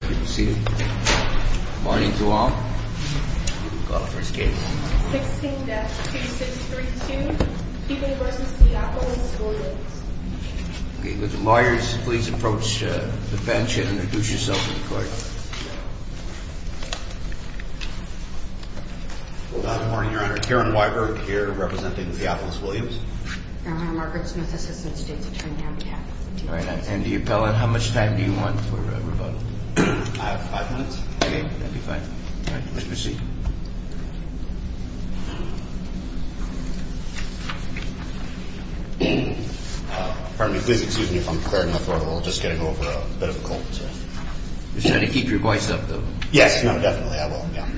16-2632 Peabody v. Theophilus Williams Karen Weiberg Margaret Smith, Assistant State's Attorney on behalf of the D.P.A. How much time do you want for rebuttal? I have five minutes. Okay, that'd be fine. All right, Mr. C. Pardon me, please excuse me if I'm clearing the floor. We're just getting over a bit of a cold. You're trying to keep your voice up, though. Yes, no, definitely, I will, yeah.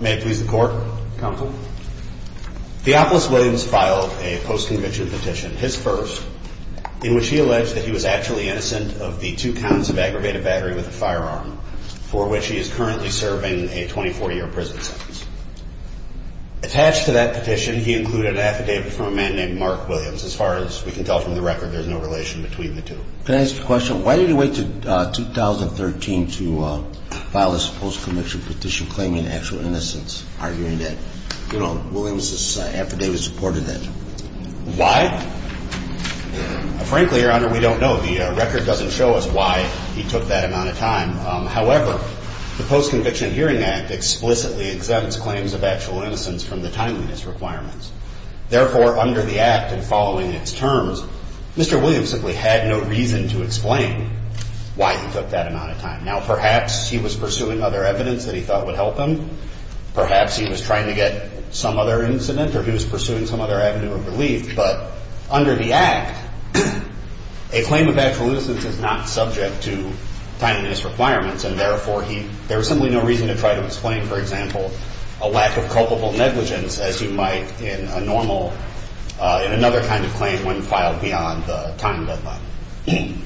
May it please the Court? Counsel. Theophilus Williams filed a post-conviction petition, his first, in which he alleged that he was actually innocent of the two counts of aggravated battery with a firearm, for which he is currently serving a 24-year prison sentence. Attached to that petition, he included an affidavit from a man named Mark Williams. As far as we can tell from the record, there's no relation between the two. Can I ask you a question? Why did he wait until 2013 to file this post-conviction petition claiming actual innocence, arguing that Williams' affidavit supported that? Why? Frankly, Your Honor, we don't know. The record doesn't show us why he took that amount of time. However, the Post-Conviction Hearing Act explicitly exempts claims of actual innocence from the timeliness requirements. Therefore, under the Act and following its terms, Mr. Williams simply had no reason to explain why he took that amount of time. Now, perhaps he was pursuing other evidence that he thought would help him. Perhaps he was trying to get some other incident, or he was pursuing some other avenue of relief. But under the Act, a claim of actual innocence is not subject to timeliness requirements. And therefore, there was simply no reason to try to explain, for example, a lack of culpable negligence, as you might in a normal, in another kind of claim when filed beyond the time deadline.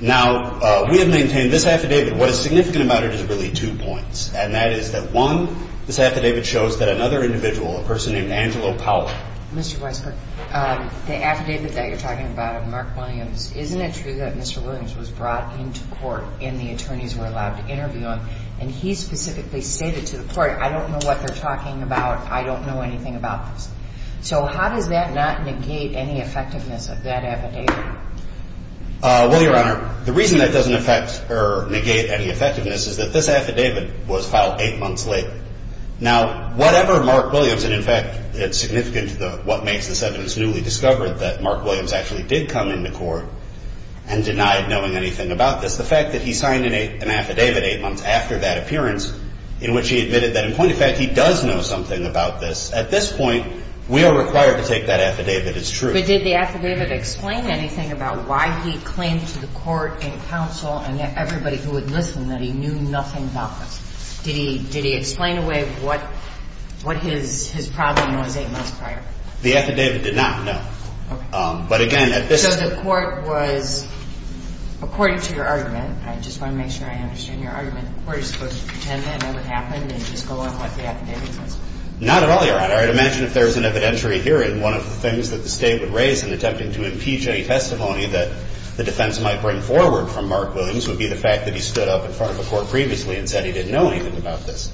Now, we have maintained this affidavit. What is significant about it is really two points, and that is that, one, this affidavit shows that another individual, a person named Angelo Powell. Mr. Weisberg, the affidavit that you're talking about of Mark Williams, isn't it true that Mr. Williams was brought into court and the attorneys were allowed to interview him? And he specifically stated to the court, I don't know what they're talking about. I don't know anything about this. So how does that not negate any effectiveness of that affidavit? Well, Your Honor, the reason that doesn't affect or negate any effectiveness is that this affidavit was filed eight months later. Now, whatever Mark Williams, and in fact, it's significant to what makes this evidence newly discovered, that Mark Williams actually did come into court and denied knowing anything about this, the fact that he signed an affidavit eight months after that appearance in which he admitted that, in point of fact, he does know something about this, at this point, we are required to take that affidavit as true. But did the affidavit explain anything about why he claimed to the court and counsel and everybody who had listened that he knew nothing about this? Did he explain away what his problem was eight months prior? The affidavit did not, no. Okay. But again, at this point... So the court was, according to your argument, I just want to make sure I understand your argument, the court is supposed to pretend that never happened and just go on with what the affidavit says? Not at all, Your Honor. I'd imagine if there was an evidentiary hearing, one of the things that the State would raise in attempting to impeach any testimony that the defense might bring forward from Mark Williams would be the fact that he stood up in front of the court previously and said he didn't know anything about this.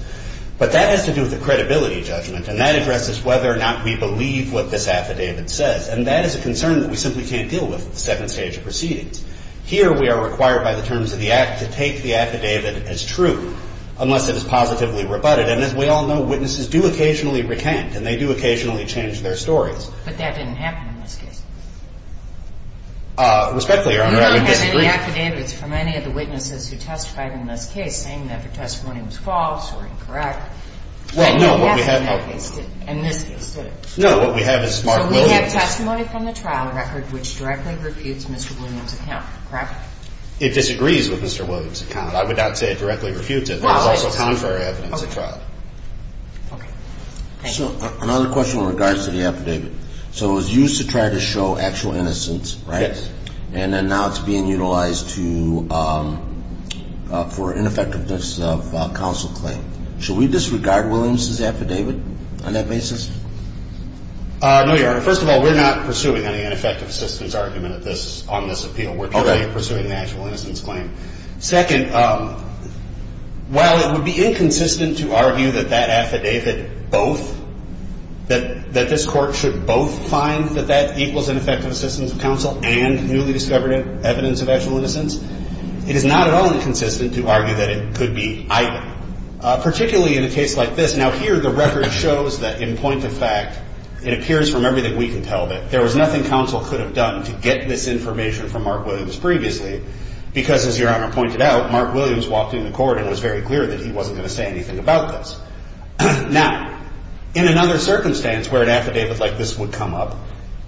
But that has to do with the credibility judgment and that addresses whether or not we believe what this affidavit says. And that is a concern that we simply can't deal with in the second stage of proceedings. Here we are required by the terms of the act to take the affidavit as true unless it is positively rebutted. And as we all know, witnesses do occasionally recant and they do occasionally change their stories. But that didn't happen in this case. Respectfully, Your Honor, I would disagree. The affidavit is from any of the witnesses who testified in this case saying that the testimony was false or incorrect. Well, no, what we have in that case didn't. In this case, did it? No, what we have is Mark Williams. So we have testimony from the trial record which directly refutes Mr. Williams' account, correct? It disagrees with Mr. Williams' account. I would not say it directly refutes it. There is also contrary evidence at trial. Okay. Thank you. So another question in regards to the affidavit. So it was used to try to show actual innocence, right? Yes. And then now it's being utilized for an ineffectiveness of counsel claim. Should we disregard Williams' affidavit on that basis? No, Your Honor. First of all, we're not pursuing any ineffective assistance argument on this appeal. We're purely pursuing an actual innocence claim. Second, while it would be inconsistent to argue that that affidavit both, that this court should both find that that equals ineffective assistance of counsel and newly discovered evidence of actual innocence, it is not at all inconsistent to argue that it could be either, particularly in a case like this. Now, here the record shows that in point of fact it appears from everything we can tell that there was nothing counsel could have done to get this information from Mark Williams previously because, as Your Honor pointed out, Mark Williams walked into court and it was very clear that he wasn't going to say anything about this. Now, in another circumstance where an affidavit like this would come up,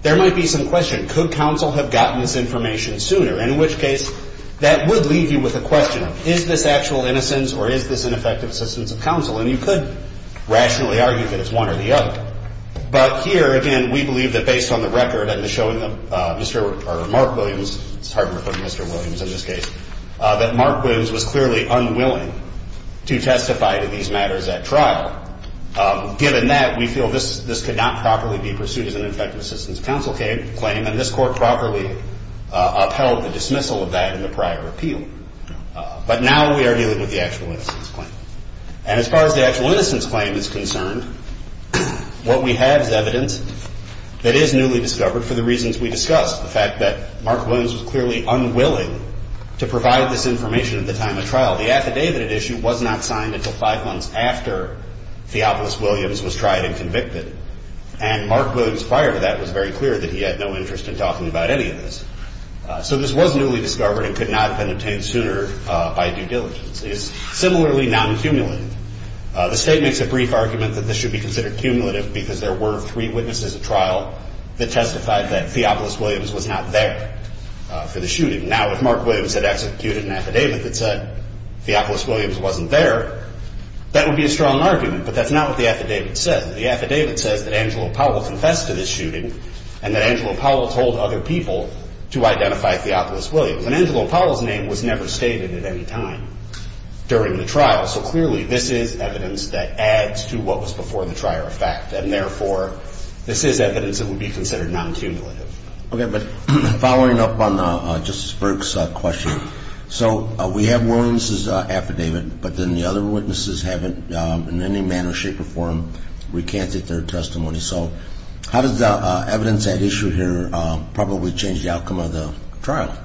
there might be some question. Could counsel have gotten this information sooner? In which case, that would leave you with a question of is this actual innocence or is this ineffective assistance of counsel? And you could rationally argue that it's one or the other. But here, again, we believe that based on the record and the showing of Mark Williams, it's hard to put Mr. Williams in this case, that Mark Williams was clearly unwilling to testify to these matters at trial. Given that, we feel this could not properly be pursued as an ineffective assistance of counsel claim and this Court properly upheld the dismissal of that in the prior appeal. But now we are dealing with the actual innocence claim. And as far as the actual innocence claim is concerned, what we have is evidence that is newly discovered for the reasons we discussed, the fact that Mark Williams was clearly unwilling to provide this information at the time of trial. The affidavit at issue was not signed until five months after Theopolis Williams was tried and convicted. And Mark Williams prior to that was very clear that he had no interest in talking about any of this. So this was newly discovered and could not have been obtained sooner by due diligence. It is similarly non-cumulative. The State makes a brief argument that this should be considered cumulative because there were three witnesses at trial that testified that Theopolis Williams was not there for the shooting. Now, if Mark Williams had executed an affidavit that said Theopolis Williams wasn't there, that would be a strong argument, but that's not what the affidavit says. The affidavit says that Angelo Powell confessed to this shooting and that Angelo Powell told other people to identify Theopolis Williams. And Angelo Powell's name was never stated at any time during the trial. So clearly, this is evidence that adds to what was before the trier of fact. And therefore, this is evidence that would be considered non-cumulative. Okay. But following up on Justice Berg's question, so we have Williams's affidavit, but then the other witnesses haven't in any manner, shape, or form recanted their testimony. So how does the evidence at issue here probably change the outcome of the trial?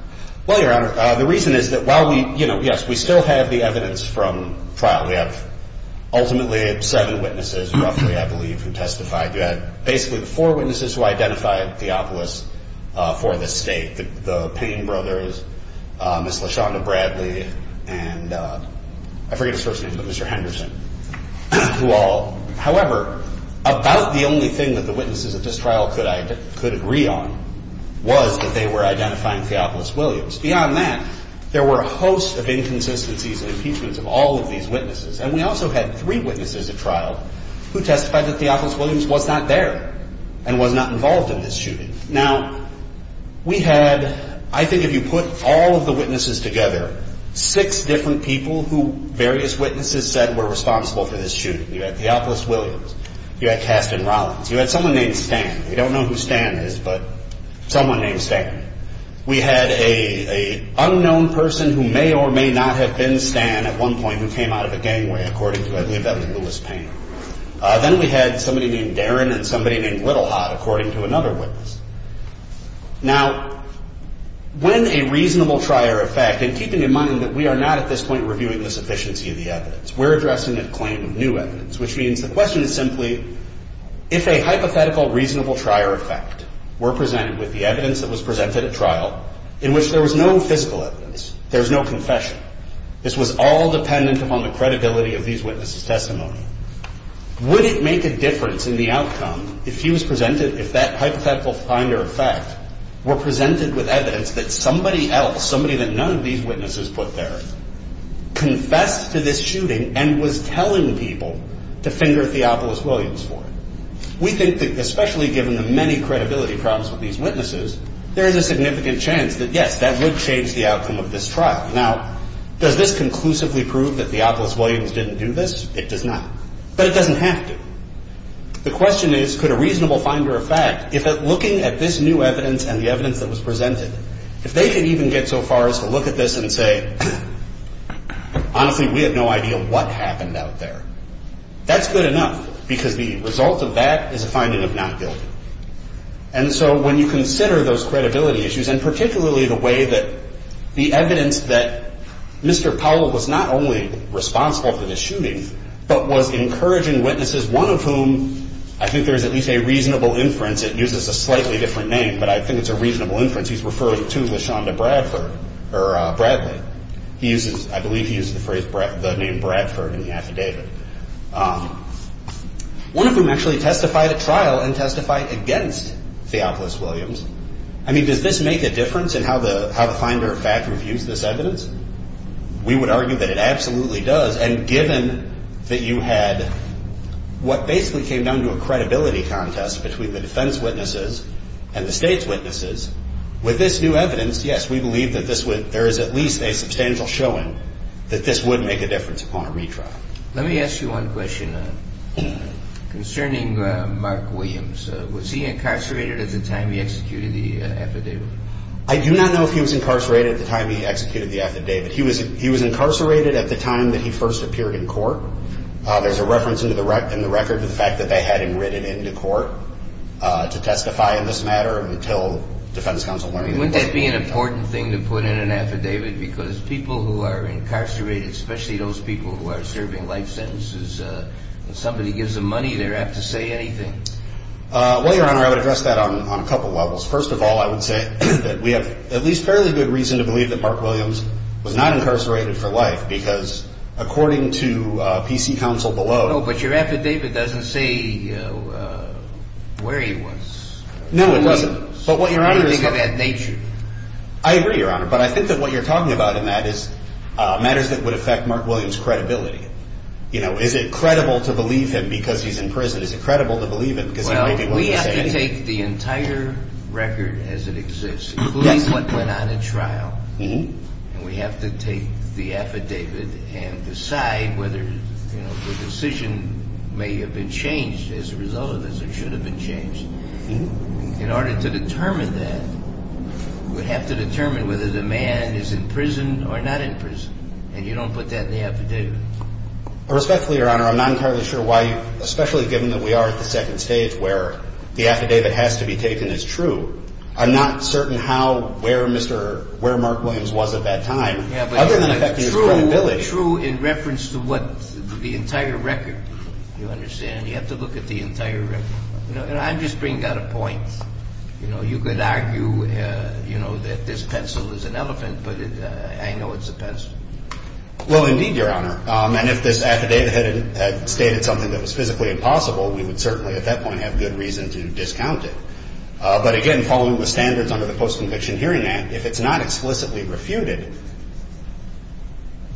Well, Your Honor, the reason is that while we, you know, yes, we still have the evidence from trial. We have ultimately seven witnesses roughly, I believe, who testified. You had basically the four witnesses who identified Theopolis for the state, the Payne brothers, Miss LaShonda Bradley, and I forget his first name, but Mr. Henderson, who all. However, about the only thing that the witnesses at this trial could agree on was that they were identifying Theopolis Williams. Beyond that, there were a host of inconsistencies and impeachments of all of these witnesses. And we also had three witnesses at trial who testified that Theopolis Williams was not there and was not involved in this shooting. Now, we had, I think if you put all of the witnesses together, six different people who various witnesses said were responsible for this shooting. You had Theopolis Williams. You had Kasten Rollins. You had someone named Stan. We don't know who Stan is, but someone named Stan. We had an unknown person who may or may not have been Stan at one point who came out of a gangway, according to, I believe, Evan Lewis Payne. Then we had somebody named Darren and somebody named Littlehot, according to another witness. Now, when a reasonable trier of fact, and keeping in mind that we are not at this point reviewing the sufficiency of the evidence, we're addressing a claim of new evidence, which means the question is simply if a hypothetical reasonable trier of fact were presented with the evidence that was presented at trial in which there was no physical evidence, there was no confession, this was all dependent upon the credibility of these witnesses' testimony, would it make a difference in the outcome if he was presented, if that hypothetical finder of fact were presented with evidence that somebody else, somebody that none of these witnesses put there, confessed to this shooting and was telling people to finger Theopolis Williams for it? We think that, especially given the many credibility problems with these witnesses, there is a significant chance that, yes, that would change the outcome of this trial. Now, does this conclusively prove that Theopolis Williams didn't do this? It does not, but it doesn't have to. The question is, could a reasonable finder of fact, if looking at this new evidence and the evidence that was presented, if they could even get so far as to look at this and say, honestly, we have no idea what happened out there, that's good enough because the result of that is a finding of not guilty. And so when you consider those credibility issues, and particularly the way that the evidence that Mr. Powell was not only responsible for this shooting, but was encouraging witnesses, one of whom I think there is at least a reasonable inference, it uses a slightly different name, but I think it's a reasonable inference, he's referring to LaShonda Bradford, or Bradley. I believe he used the name Bradford in the affidavit. One of whom actually testified at trial and testified against Theopolis Williams. I mean, does this make a difference in how the finder of fact reviews this evidence? We would argue that it absolutely does. And given that you had what basically came down to a credibility contest between the defense witnesses and the state's witnesses, with this new evidence, yes, we believe that there is at least a substantial showing that this would make a difference upon a retrial. Let me ask you one question concerning Mark Williams. Was he incarcerated at the time he executed the affidavit? I do not know if he was incarcerated at the time he executed the affidavit. He was incarcerated at the time that he first appeared in court. There's a reference in the record to the fact that they had him written into court to testify in this matter until defense counsel learned that he was. Wouldn't that be an important thing to put in an affidavit? Because people who are incarcerated, especially those people who are serving life sentences, when somebody gives them money, they don't have to say anything. Well, Your Honor, I would address that on a couple levels. First of all, I would say that we have at least fairly good reason to believe that Mark Williams was not incarcerated for life because according to PC counsel below... No, but your affidavit doesn't say where he was. No, it doesn't. It doesn't have that nature. I agree, Your Honor, but I think that what you're talking about in that is matters that would affect Mark Williams' credibility. You know, is it credible to believe him because he's in prison? Is it credible to believe him because he may be willing to say anything? Well, we have to take the entire record as it exists, including what went on in trial, and we have to take the affidavit and decide whether the decision may have been changed as a result of this or should have been changed. In order to determine that, we have to determine whether the man is in prison or not in prison, and you don't put that in the affidavit. Respectfully, Your Honor, I'm not entirely sure why, especially given that we are at the second stage where the affidavit has to be taken as true, I'm not certain where Mark Williams was at that time, other than affecting his credibility. True in reference to the entire record, you understand? You have to look at the entire record. I'm just bringing out a point. You could argue that this pencil is an elephant, but I know it's a pencil. Well, indeed, Your Honor, and if this affidavit had stated something that was physically impossible, we would certainly at that point have good reason to discount it. But again, following the standards under the Post-Conviction Hearing Act, if it's not explicitly refuted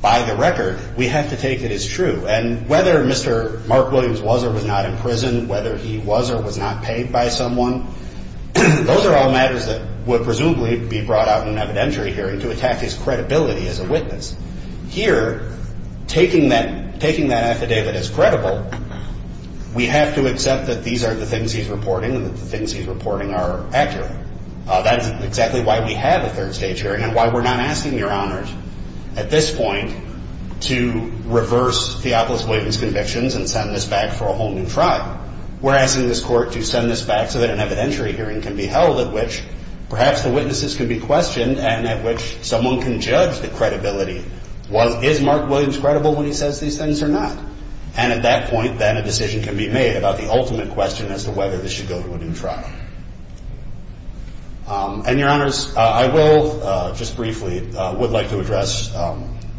by the record, we have to take it as true. And whether Mr. Mark Williams was or was not in prison, whether he was or was not paid by someone, those are all matters that would presumably be brought out in an evidentiary hearing to attack his credibility as a witness. Here, taking that affidavit as credible, we have to accept that these are the things he's reporting and that the things he's reporting are accurate. That's exactly why we have a third-stage hearing and why we're not asking Your Honors at this point to reverse Theopolis Williams' convictions and send this back for a whole new trial. We're asking this Court to send this back so that an evidentiary hearing can be held at which perhaps the witnesses can be questioned and at which someone can judge the credibility. Is Mark Williams credible when he says these things or not? And at that point, then, a decision can be made about the ultimate question as to whether this should go to a new trial. And Your Honors, I will, just briefly, would like to address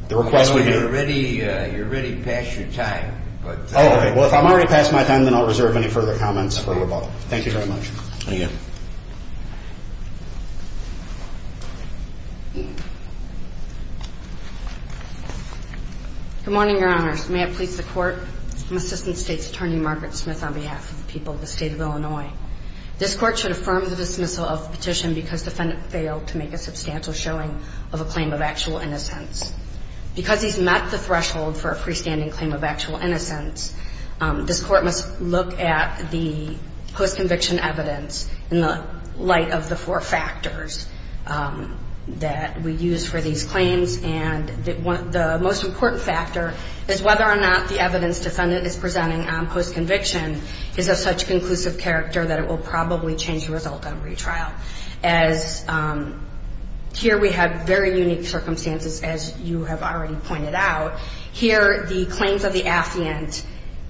the request we do... Well, you're already past your time, but... Oh, okay. Well, if I'm already past my time, then I'll reserve any further comments for rebuttal. Thank you very much. Thank you. Good morning, Your Honors. May it please the Court, I'm Assistant State's Attorney Margaret Smith on behalf of the people of the State of Illinois. This Court should affirm the dismissal of the petition because the defendant failed to make a substantial showing of a claim of actual innocence. Because he's met the threshold for a freestanding claim of actual innocence, this Court must look at the post-conviction evidence in the light of the four factors that we use for these claims. And the most important factor is whether or not the evidence defendant is presenting on post-conviction is of such conclusive character that it will probably change the result on retrial. As here we have very unique circumstances, as you have already pointed out. Here, the claims of the affiant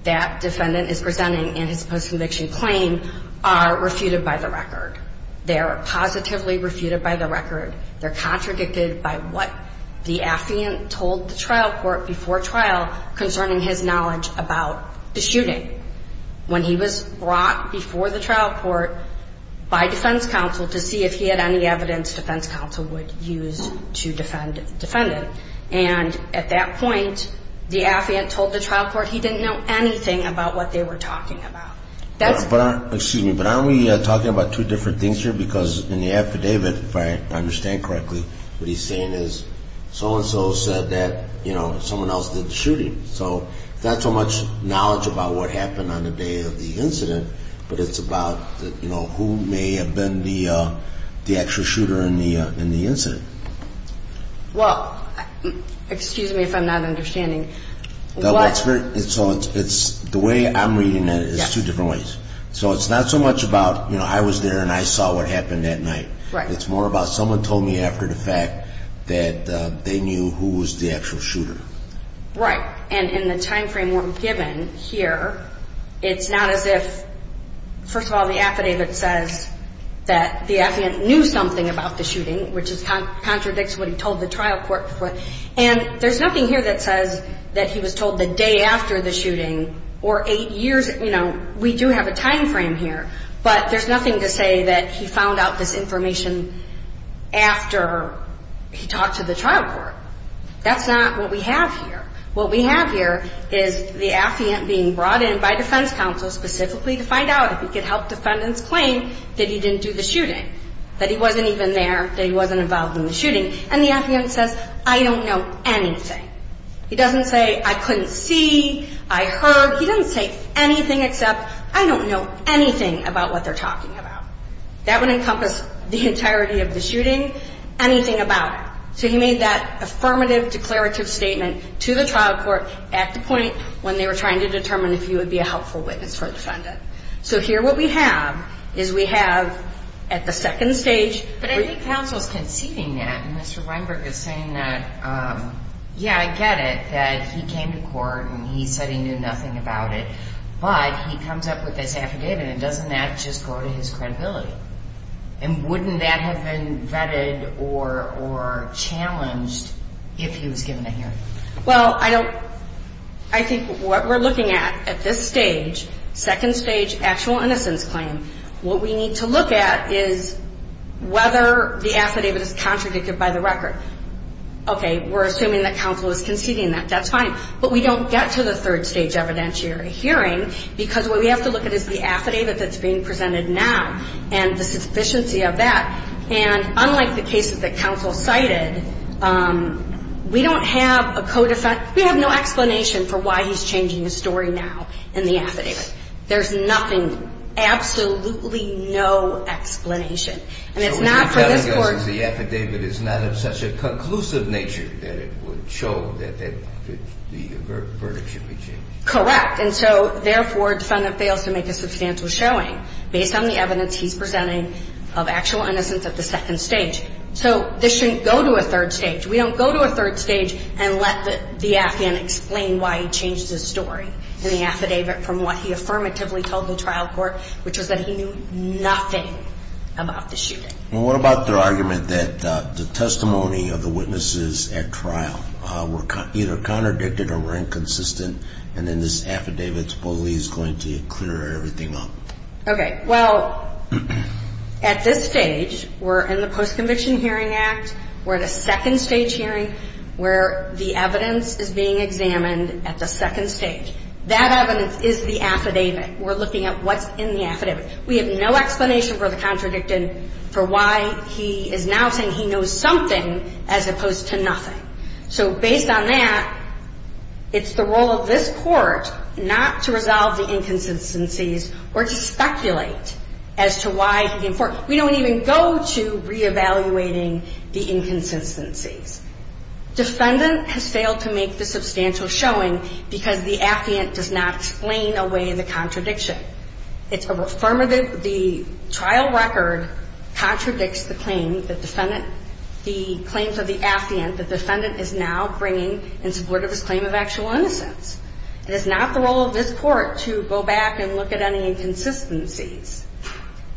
that defendant is presenting in his post-conviction claim are refuted by the record. They are positively refuted by the record. They're contradicted by what the affiant told the trial court before trial concerning his knowledge about the shooting when he was brought before the trial court by defense counsel to see if he had any evidence defense counsel would use to defend the defendant. And at that point, the affiant told the trial court he didn't know anything about what they were talking about. Excuse me, but aren't we talking about two different things here? Because in the affidavit, if I understand correctly, what he's saying is so-and-so said that, you know, someone else did the shooting. So it's not so much knowledge about what happened on the day of the incident, but it's about, you know, who may have been the actual shooter in the incident. Well, excuse me if I'm not understanding. So it's the way I'm reading it is two different ways. So it's not so much about, you know, I was there and I saw what happened that night. It's more about someone told me after the fact that they knew who was the actual shooter. Right. And in the time frame we're given here, it's not as if, first of all, the affidavit says that the affiant knew something about the shooting, which contradicts what he told the trial court before. And there's nothing here that says that he was told the day after the shooting or eight years, you know, we do have a time frame here, but there's nothing to say that he found out this information after he talked to the trial court. That's not what we have here. What we have here is the affiant being brought in by defense counsel specifically to find out if he could help defendants claim that he didn't do the shooting, that he wasn't even there, that he wasn't involved in the shooting. And the affiant says, I don't know anything. He doesn't say, I couldn't see, I heard. He doesn't say anything except, I don't know anything about what they're talking about. That would encompass the entirety of the shooting, anything about it. So he made that affirmative declarative statement to the trial court at the point when they were trying to determine if he would be a helpful witness for a defendant. So here what we have is we have at the second stage. But I think counsel's conceding that. And Mr. Weinberg is saying that, yeah, I get it, that he came to court and he said he knew nothing about it, but he comes up with this affidavit and doesn't that just go to his credibility? And wouldn't that have been vetted or challenged if he was given a hearing? Well, I think what we're looking at at this stage, second stage actual innocence claim, what we need to look at is whether the affidavit is contradicted by the record. Okay, we're assuming that counsel is conceding that. That's fine. But we don't get to the third stage evidentiary hearing because what we have to look at is the affidavit that's being presented now and the sufficiency of that. And unlike the cases that counsel cited, we don't have a co-defendant. We have no explanation for why he's changing his story now in the affidavit. There's nothing, absolutely no explanation. And it's not for this court. So what you're telling us is the affidavit is not of such a conclusive nature that it would show that the verdict should be changed. Correct. And so, therefore, defendant fails to make a substantial showing based on the evidence he's presenting of actual innocence at the second stage. So this shouldn't go to a third stage. We don't go to a third stage and let the affidavit explain why he changed his story in the affidavit from what he affirmatively told the trial court, which was that he knew nothing about the shooting. What about their argument that the testimony of the witnesses at trial were either contradicted or were inconsistent and then this affidavit's bully is going to clear everything up? Okay. Well, at this stage, we're in the Post-Conviction Hearing Act. We're at a second stage hearing where the evidence is being examined at the second stage. That evidence is the affidavit. We're looking at what's in the affidavit. We have no explanation for the contradicted, for why he is now saying he knows something as opposed to nothing. So based on that, it's the role of this Court not to resolve the inconsistencies or to speculate as to why he informed. We don't even go to reevaluating the inconsistencies. Defendant has failed to make the substantial showing because the affidavit does not explain away the contradiction. It's affirmative. The trial record contradicts the claim, the defendant, the claims of the affidavit the defendant is now bringing in support of his claim of actual innocence. It is not the role of this Court to go back and look at any inconsistencies.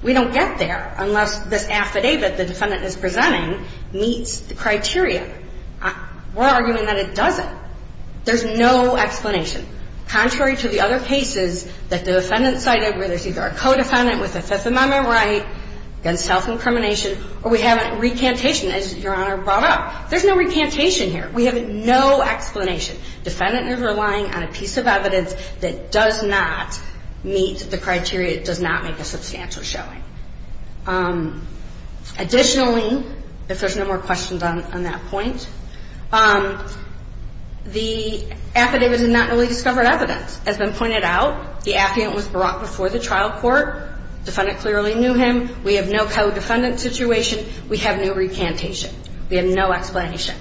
We don't get there unless this affidavit the defendant is presenting meets the criteria. We're arguing that it doesn't. There's no explanation, contrary to the other cases that the defendant cited where there's either a co-defendant with a Fifth Amendment right against self-incrimination or we have a recantation, as Your Honor brought up. There's no recantation here. We have no explanation. Defendant is relying on a piece of evidence that does not meet the criteria, does not make a substantial showing. Additionally, if there's no more questions on that point, the affidavit did not really discover evidence. As has been pointed out, the affidavit was brought before the trial court. Defendant clearly knew him. We have no co-defendant situation. We have no recantation. We have no explanation.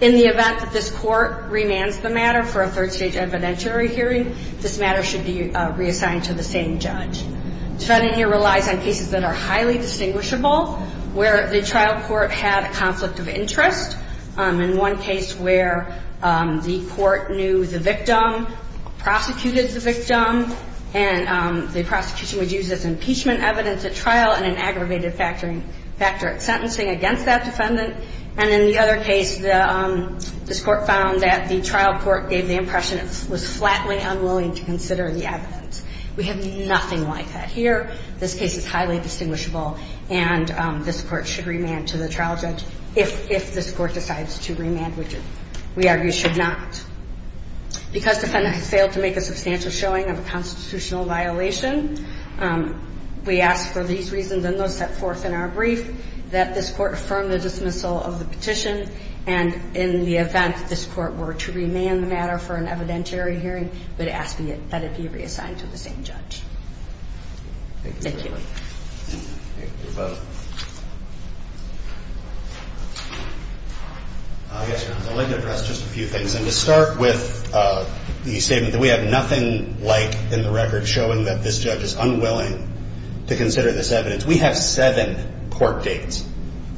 In the event that this Court remands the matter for a third-stage evidentiary hearing, this matter should be reassigned to the same judge. Defendant here relies on cases that are highly distinguishable, where the trial court had a conflict of interest. In one case where the court knew the victim, prosecuted the victim, and the prosecution would use this impeachment evidence at trial and an aggravated factor at sentencing against that defendant. And in the other case, this Court found that the trial court gave the impression it was flatly unwilling to consider the evidence. We have nothing like that here. This case is highly distinguishable, and this Court should remand to the trial judge if this Court decides to remand. We argue should not. Because defendant has failed to make a substantial showing of a constitutional violation, we ask for these reasons and those set forth in our brief, that this Court affirm the dismissal of the petition, and in the event that this Court were to remand the matter for an evidentiary hearing, we'd ask that it be reassigned to the same judge. Thank you. Thank you both. I'd like to address just a few things, and to start with the statement that we have nothing like in the record showing that this judge is unwilling to consider this evidence. We have seven court dates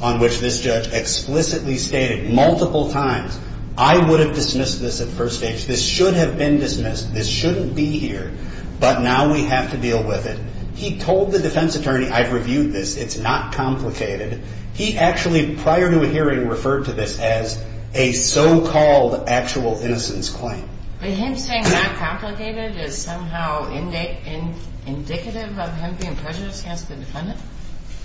on which this judge explicitly stated multiple times, I would have dismissed this at first stage. This should have been dismissed. This shouldn't be here. But now we have to deal with it. He told the defense attorney, I've reviewed this. It's not complicated. He actually, prior to a hearing, referred to this as a so-called actual innocence claim. But him saying not complicated is somehow indicative of him being prejudiced against the defendant?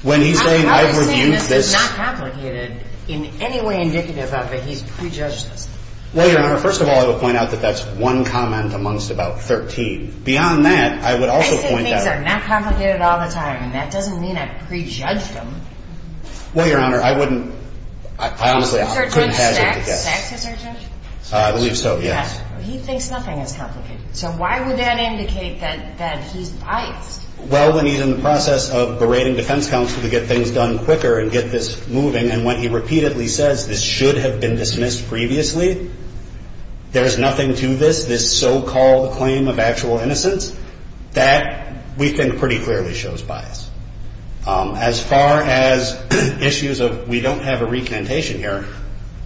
When he's saying, I've reviewed this. It's not complicated in any way indicative of that he's prejudiced. Well, Your Honor, first of all, I would point out that that's one comment amongst about 13. Beyond that, I would also point out. I say things are not complicated all the time, and that doesn't mean I've prejudged him. Well, Your Honor, I honestly couldn't hazard to guess. Sex is our judge? I believe so, yes. He thinks nothing is complicated. So why would that indicate that he's biased? Well, when he's in the process of berating defense counsel to get things done quicker and get this moving, and when he repeatedly says this should have been dismissed previously, there is nothing to this, this so-called claim of actual innocence, that we think pretty clearly shows bias. As far as issues of we don't have a recantation here,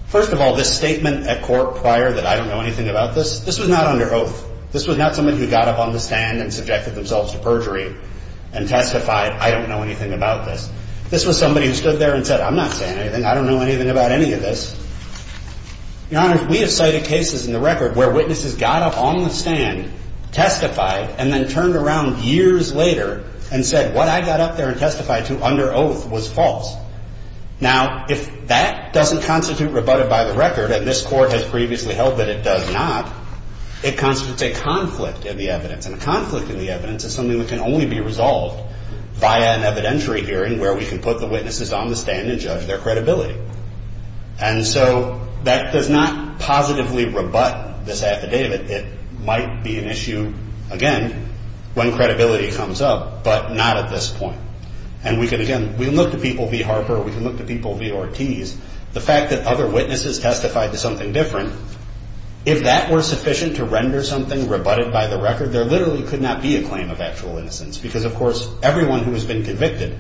first of all, this statement at court prior that I don't know anything about this, this was not under oath. This was not somebody who got up on the stand and subjected themselves to perjury and testified, I don't know anything about this. This was somebody who stood there and said, I'm not saying anything. I don't know anything about any of this. Your Honor, we have cited cases in the record where witnesses got up on the stand, testified, and then turned around years later and said, what I got up there and testified to under oath was false. Now, if that doesn't constitute rebutted by the record, and this court has previously held that it does not, it constitutes a conflict in the evidence. And a conflict in the evidence is something that can only be resolved via an evidentiary hearing where we can put the witnesses on the stand and judge their credibility. And so that does not positively rebut this affidavit. It might be an issue, again, when credibility comes up, but not at this point. And we can, again, we can look to people v. Harper, we can look to people v. Ortiz. The fact that other witnesses testified to something different, if that were sufficient to render something rebutted by the record, there literally could not be a claim of actual innocence. Because, of course, everyone who has been convicted,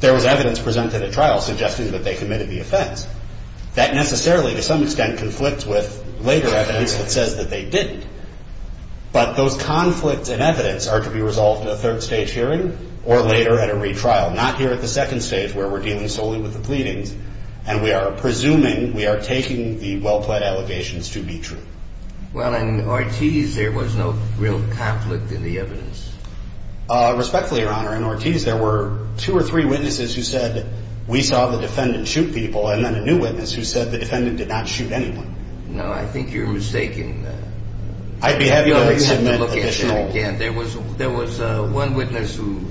there was evidence presented at trial suggesting that they committed the offense. That necessarily, to some extent, conflicts with later evidence that says that they didn't. But those conflicts in evidence are to be resolved in a third stage hearing or later at a retrial, not here at the second stage where we're dealing solely with the pleadings. And we are presuming, we are taking the well-plead allegations to be true. Well, in Ortiz there was no real conflict in the evidence. Respectfully, Your Honor, in Ortiz there were two or three witnesses who said we saw the defendant shoot people and then a new witness who said the defendant did not shoot anyone. No, I think you're mistaken. I'd be happy to submit additional. There was one witness who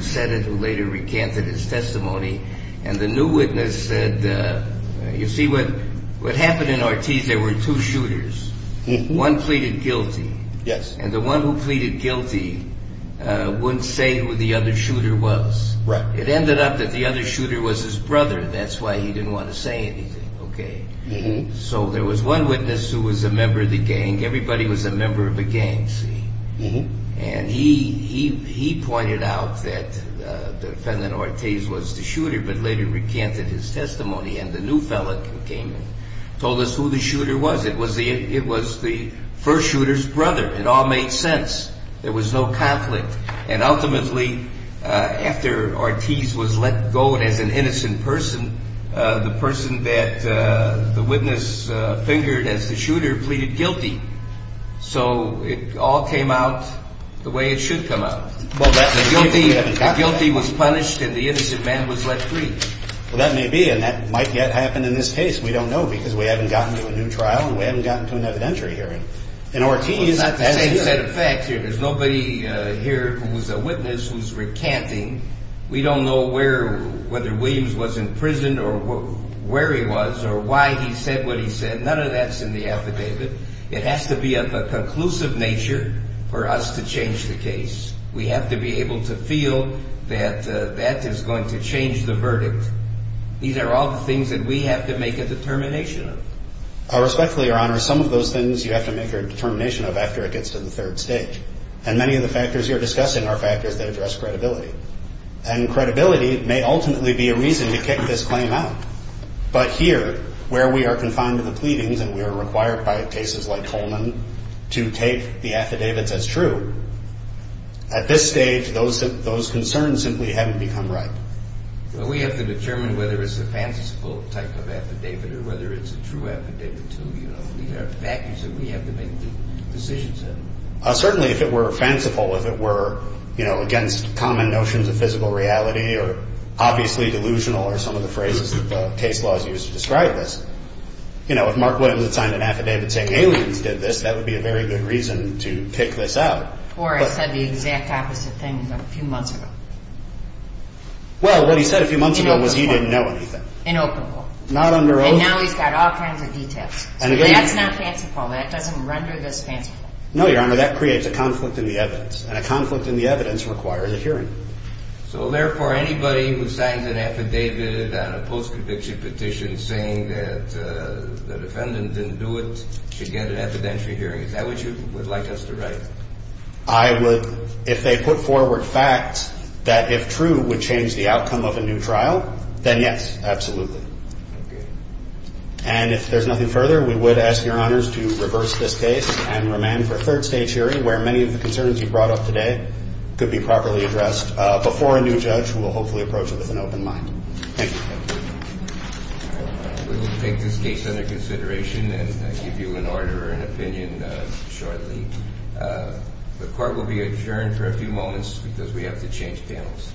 said it and later recanted his testimony. And the new witness said, you see, what happened in Ortiz, there were two shooters. One pleaded guilty. Yes. And the one who pleaded guilty wouldn't say who the other shooter was. Right. It ended up that the other shooter was his brother. That's why he didn't want to say anything. Okay. So there was one witness who was a member of the gang. Everybody was a member of a gang. And he pointed out that the defendant Ortiz was the shooter but later recanted his testimony. And the new fellow came and told us who the shooter was. It was the first shooter's brother. It all made sense. There was no conflict. And ultimately, after Ortiz was let go and as an innocent person, the person that the witness fingered as the shooter pleaded guilty. So it all came out the way it should come out. The guilty was punished and the innocent man was let free. Well, that may be, and that might yet happen in this case. We don't know because we haven't gotten to a new trial and we haven't gotten to an evidentiary hearing. In Ortiz, as here. Well, it's not the same set of facts here. There's nobody here who was a witness who's recanting. We don't know whether Williams was in prison or where he was or why he said what he said. None of that's in the affidavit. It has to be of a conclusive nature for us to change the case. We have to be able to feel that that is going to change the verdict. These are all the things that we have to make a determination of. Respectfully, Your Honor, some of those things you have to make a determination of after it gets to the third stage. And many of the factors you're discussing are factors that address credibility. And credibility may ultimately be a reason to kick this claim out. But here, where we are confined to the pleadings and we are required by cases like Coleman to take the affidavits as true, at this stage those concerns simply haven't become ripe. We have to determine whether it's a fanciful type of affidavit or whether it's a true affidavit, too. These are factors that we have to make decisions in. Certainly if it were fanciful, if it were against common notions of physical reality or obviously delusional are some of the phrases that the case laws use to describe this, you know, if Mark Williams had signed an affidavit saying aliens did this, that would be a very good reason to pick this out. Or it said the exact opposite thing a few months ago. Well, what he said a few months ago was he didn't know anything. Inoperable. Not under oath. And now he's got all kinds of details. That's not fanciful. That doesn't render this fanciful. No, Your Honor, that creates a conflict in the evidence. And a conflict in the evidence requires a hearing. So, therefore, anybody who signs an affidavit on a post-conviction petition saying that the defendant didn't do it should get an evidentiary hearing. Is that what you would like us to write? I would, if they put forward facts that, if true, would change the outcome of a new trial, then yes, absolutely. Okay. And if there's nothing further, we would ask Your Honors to reverse this case and remain for a third stage hearing where many of the concerns you brought up today could be properly addressed before a new judge who will hopefully approach it with an open mind. Thank you. Thank you. We will take this case under consideration and give you an order and opinion shortly. The court will be adjourned for a few moments because we have to change panels.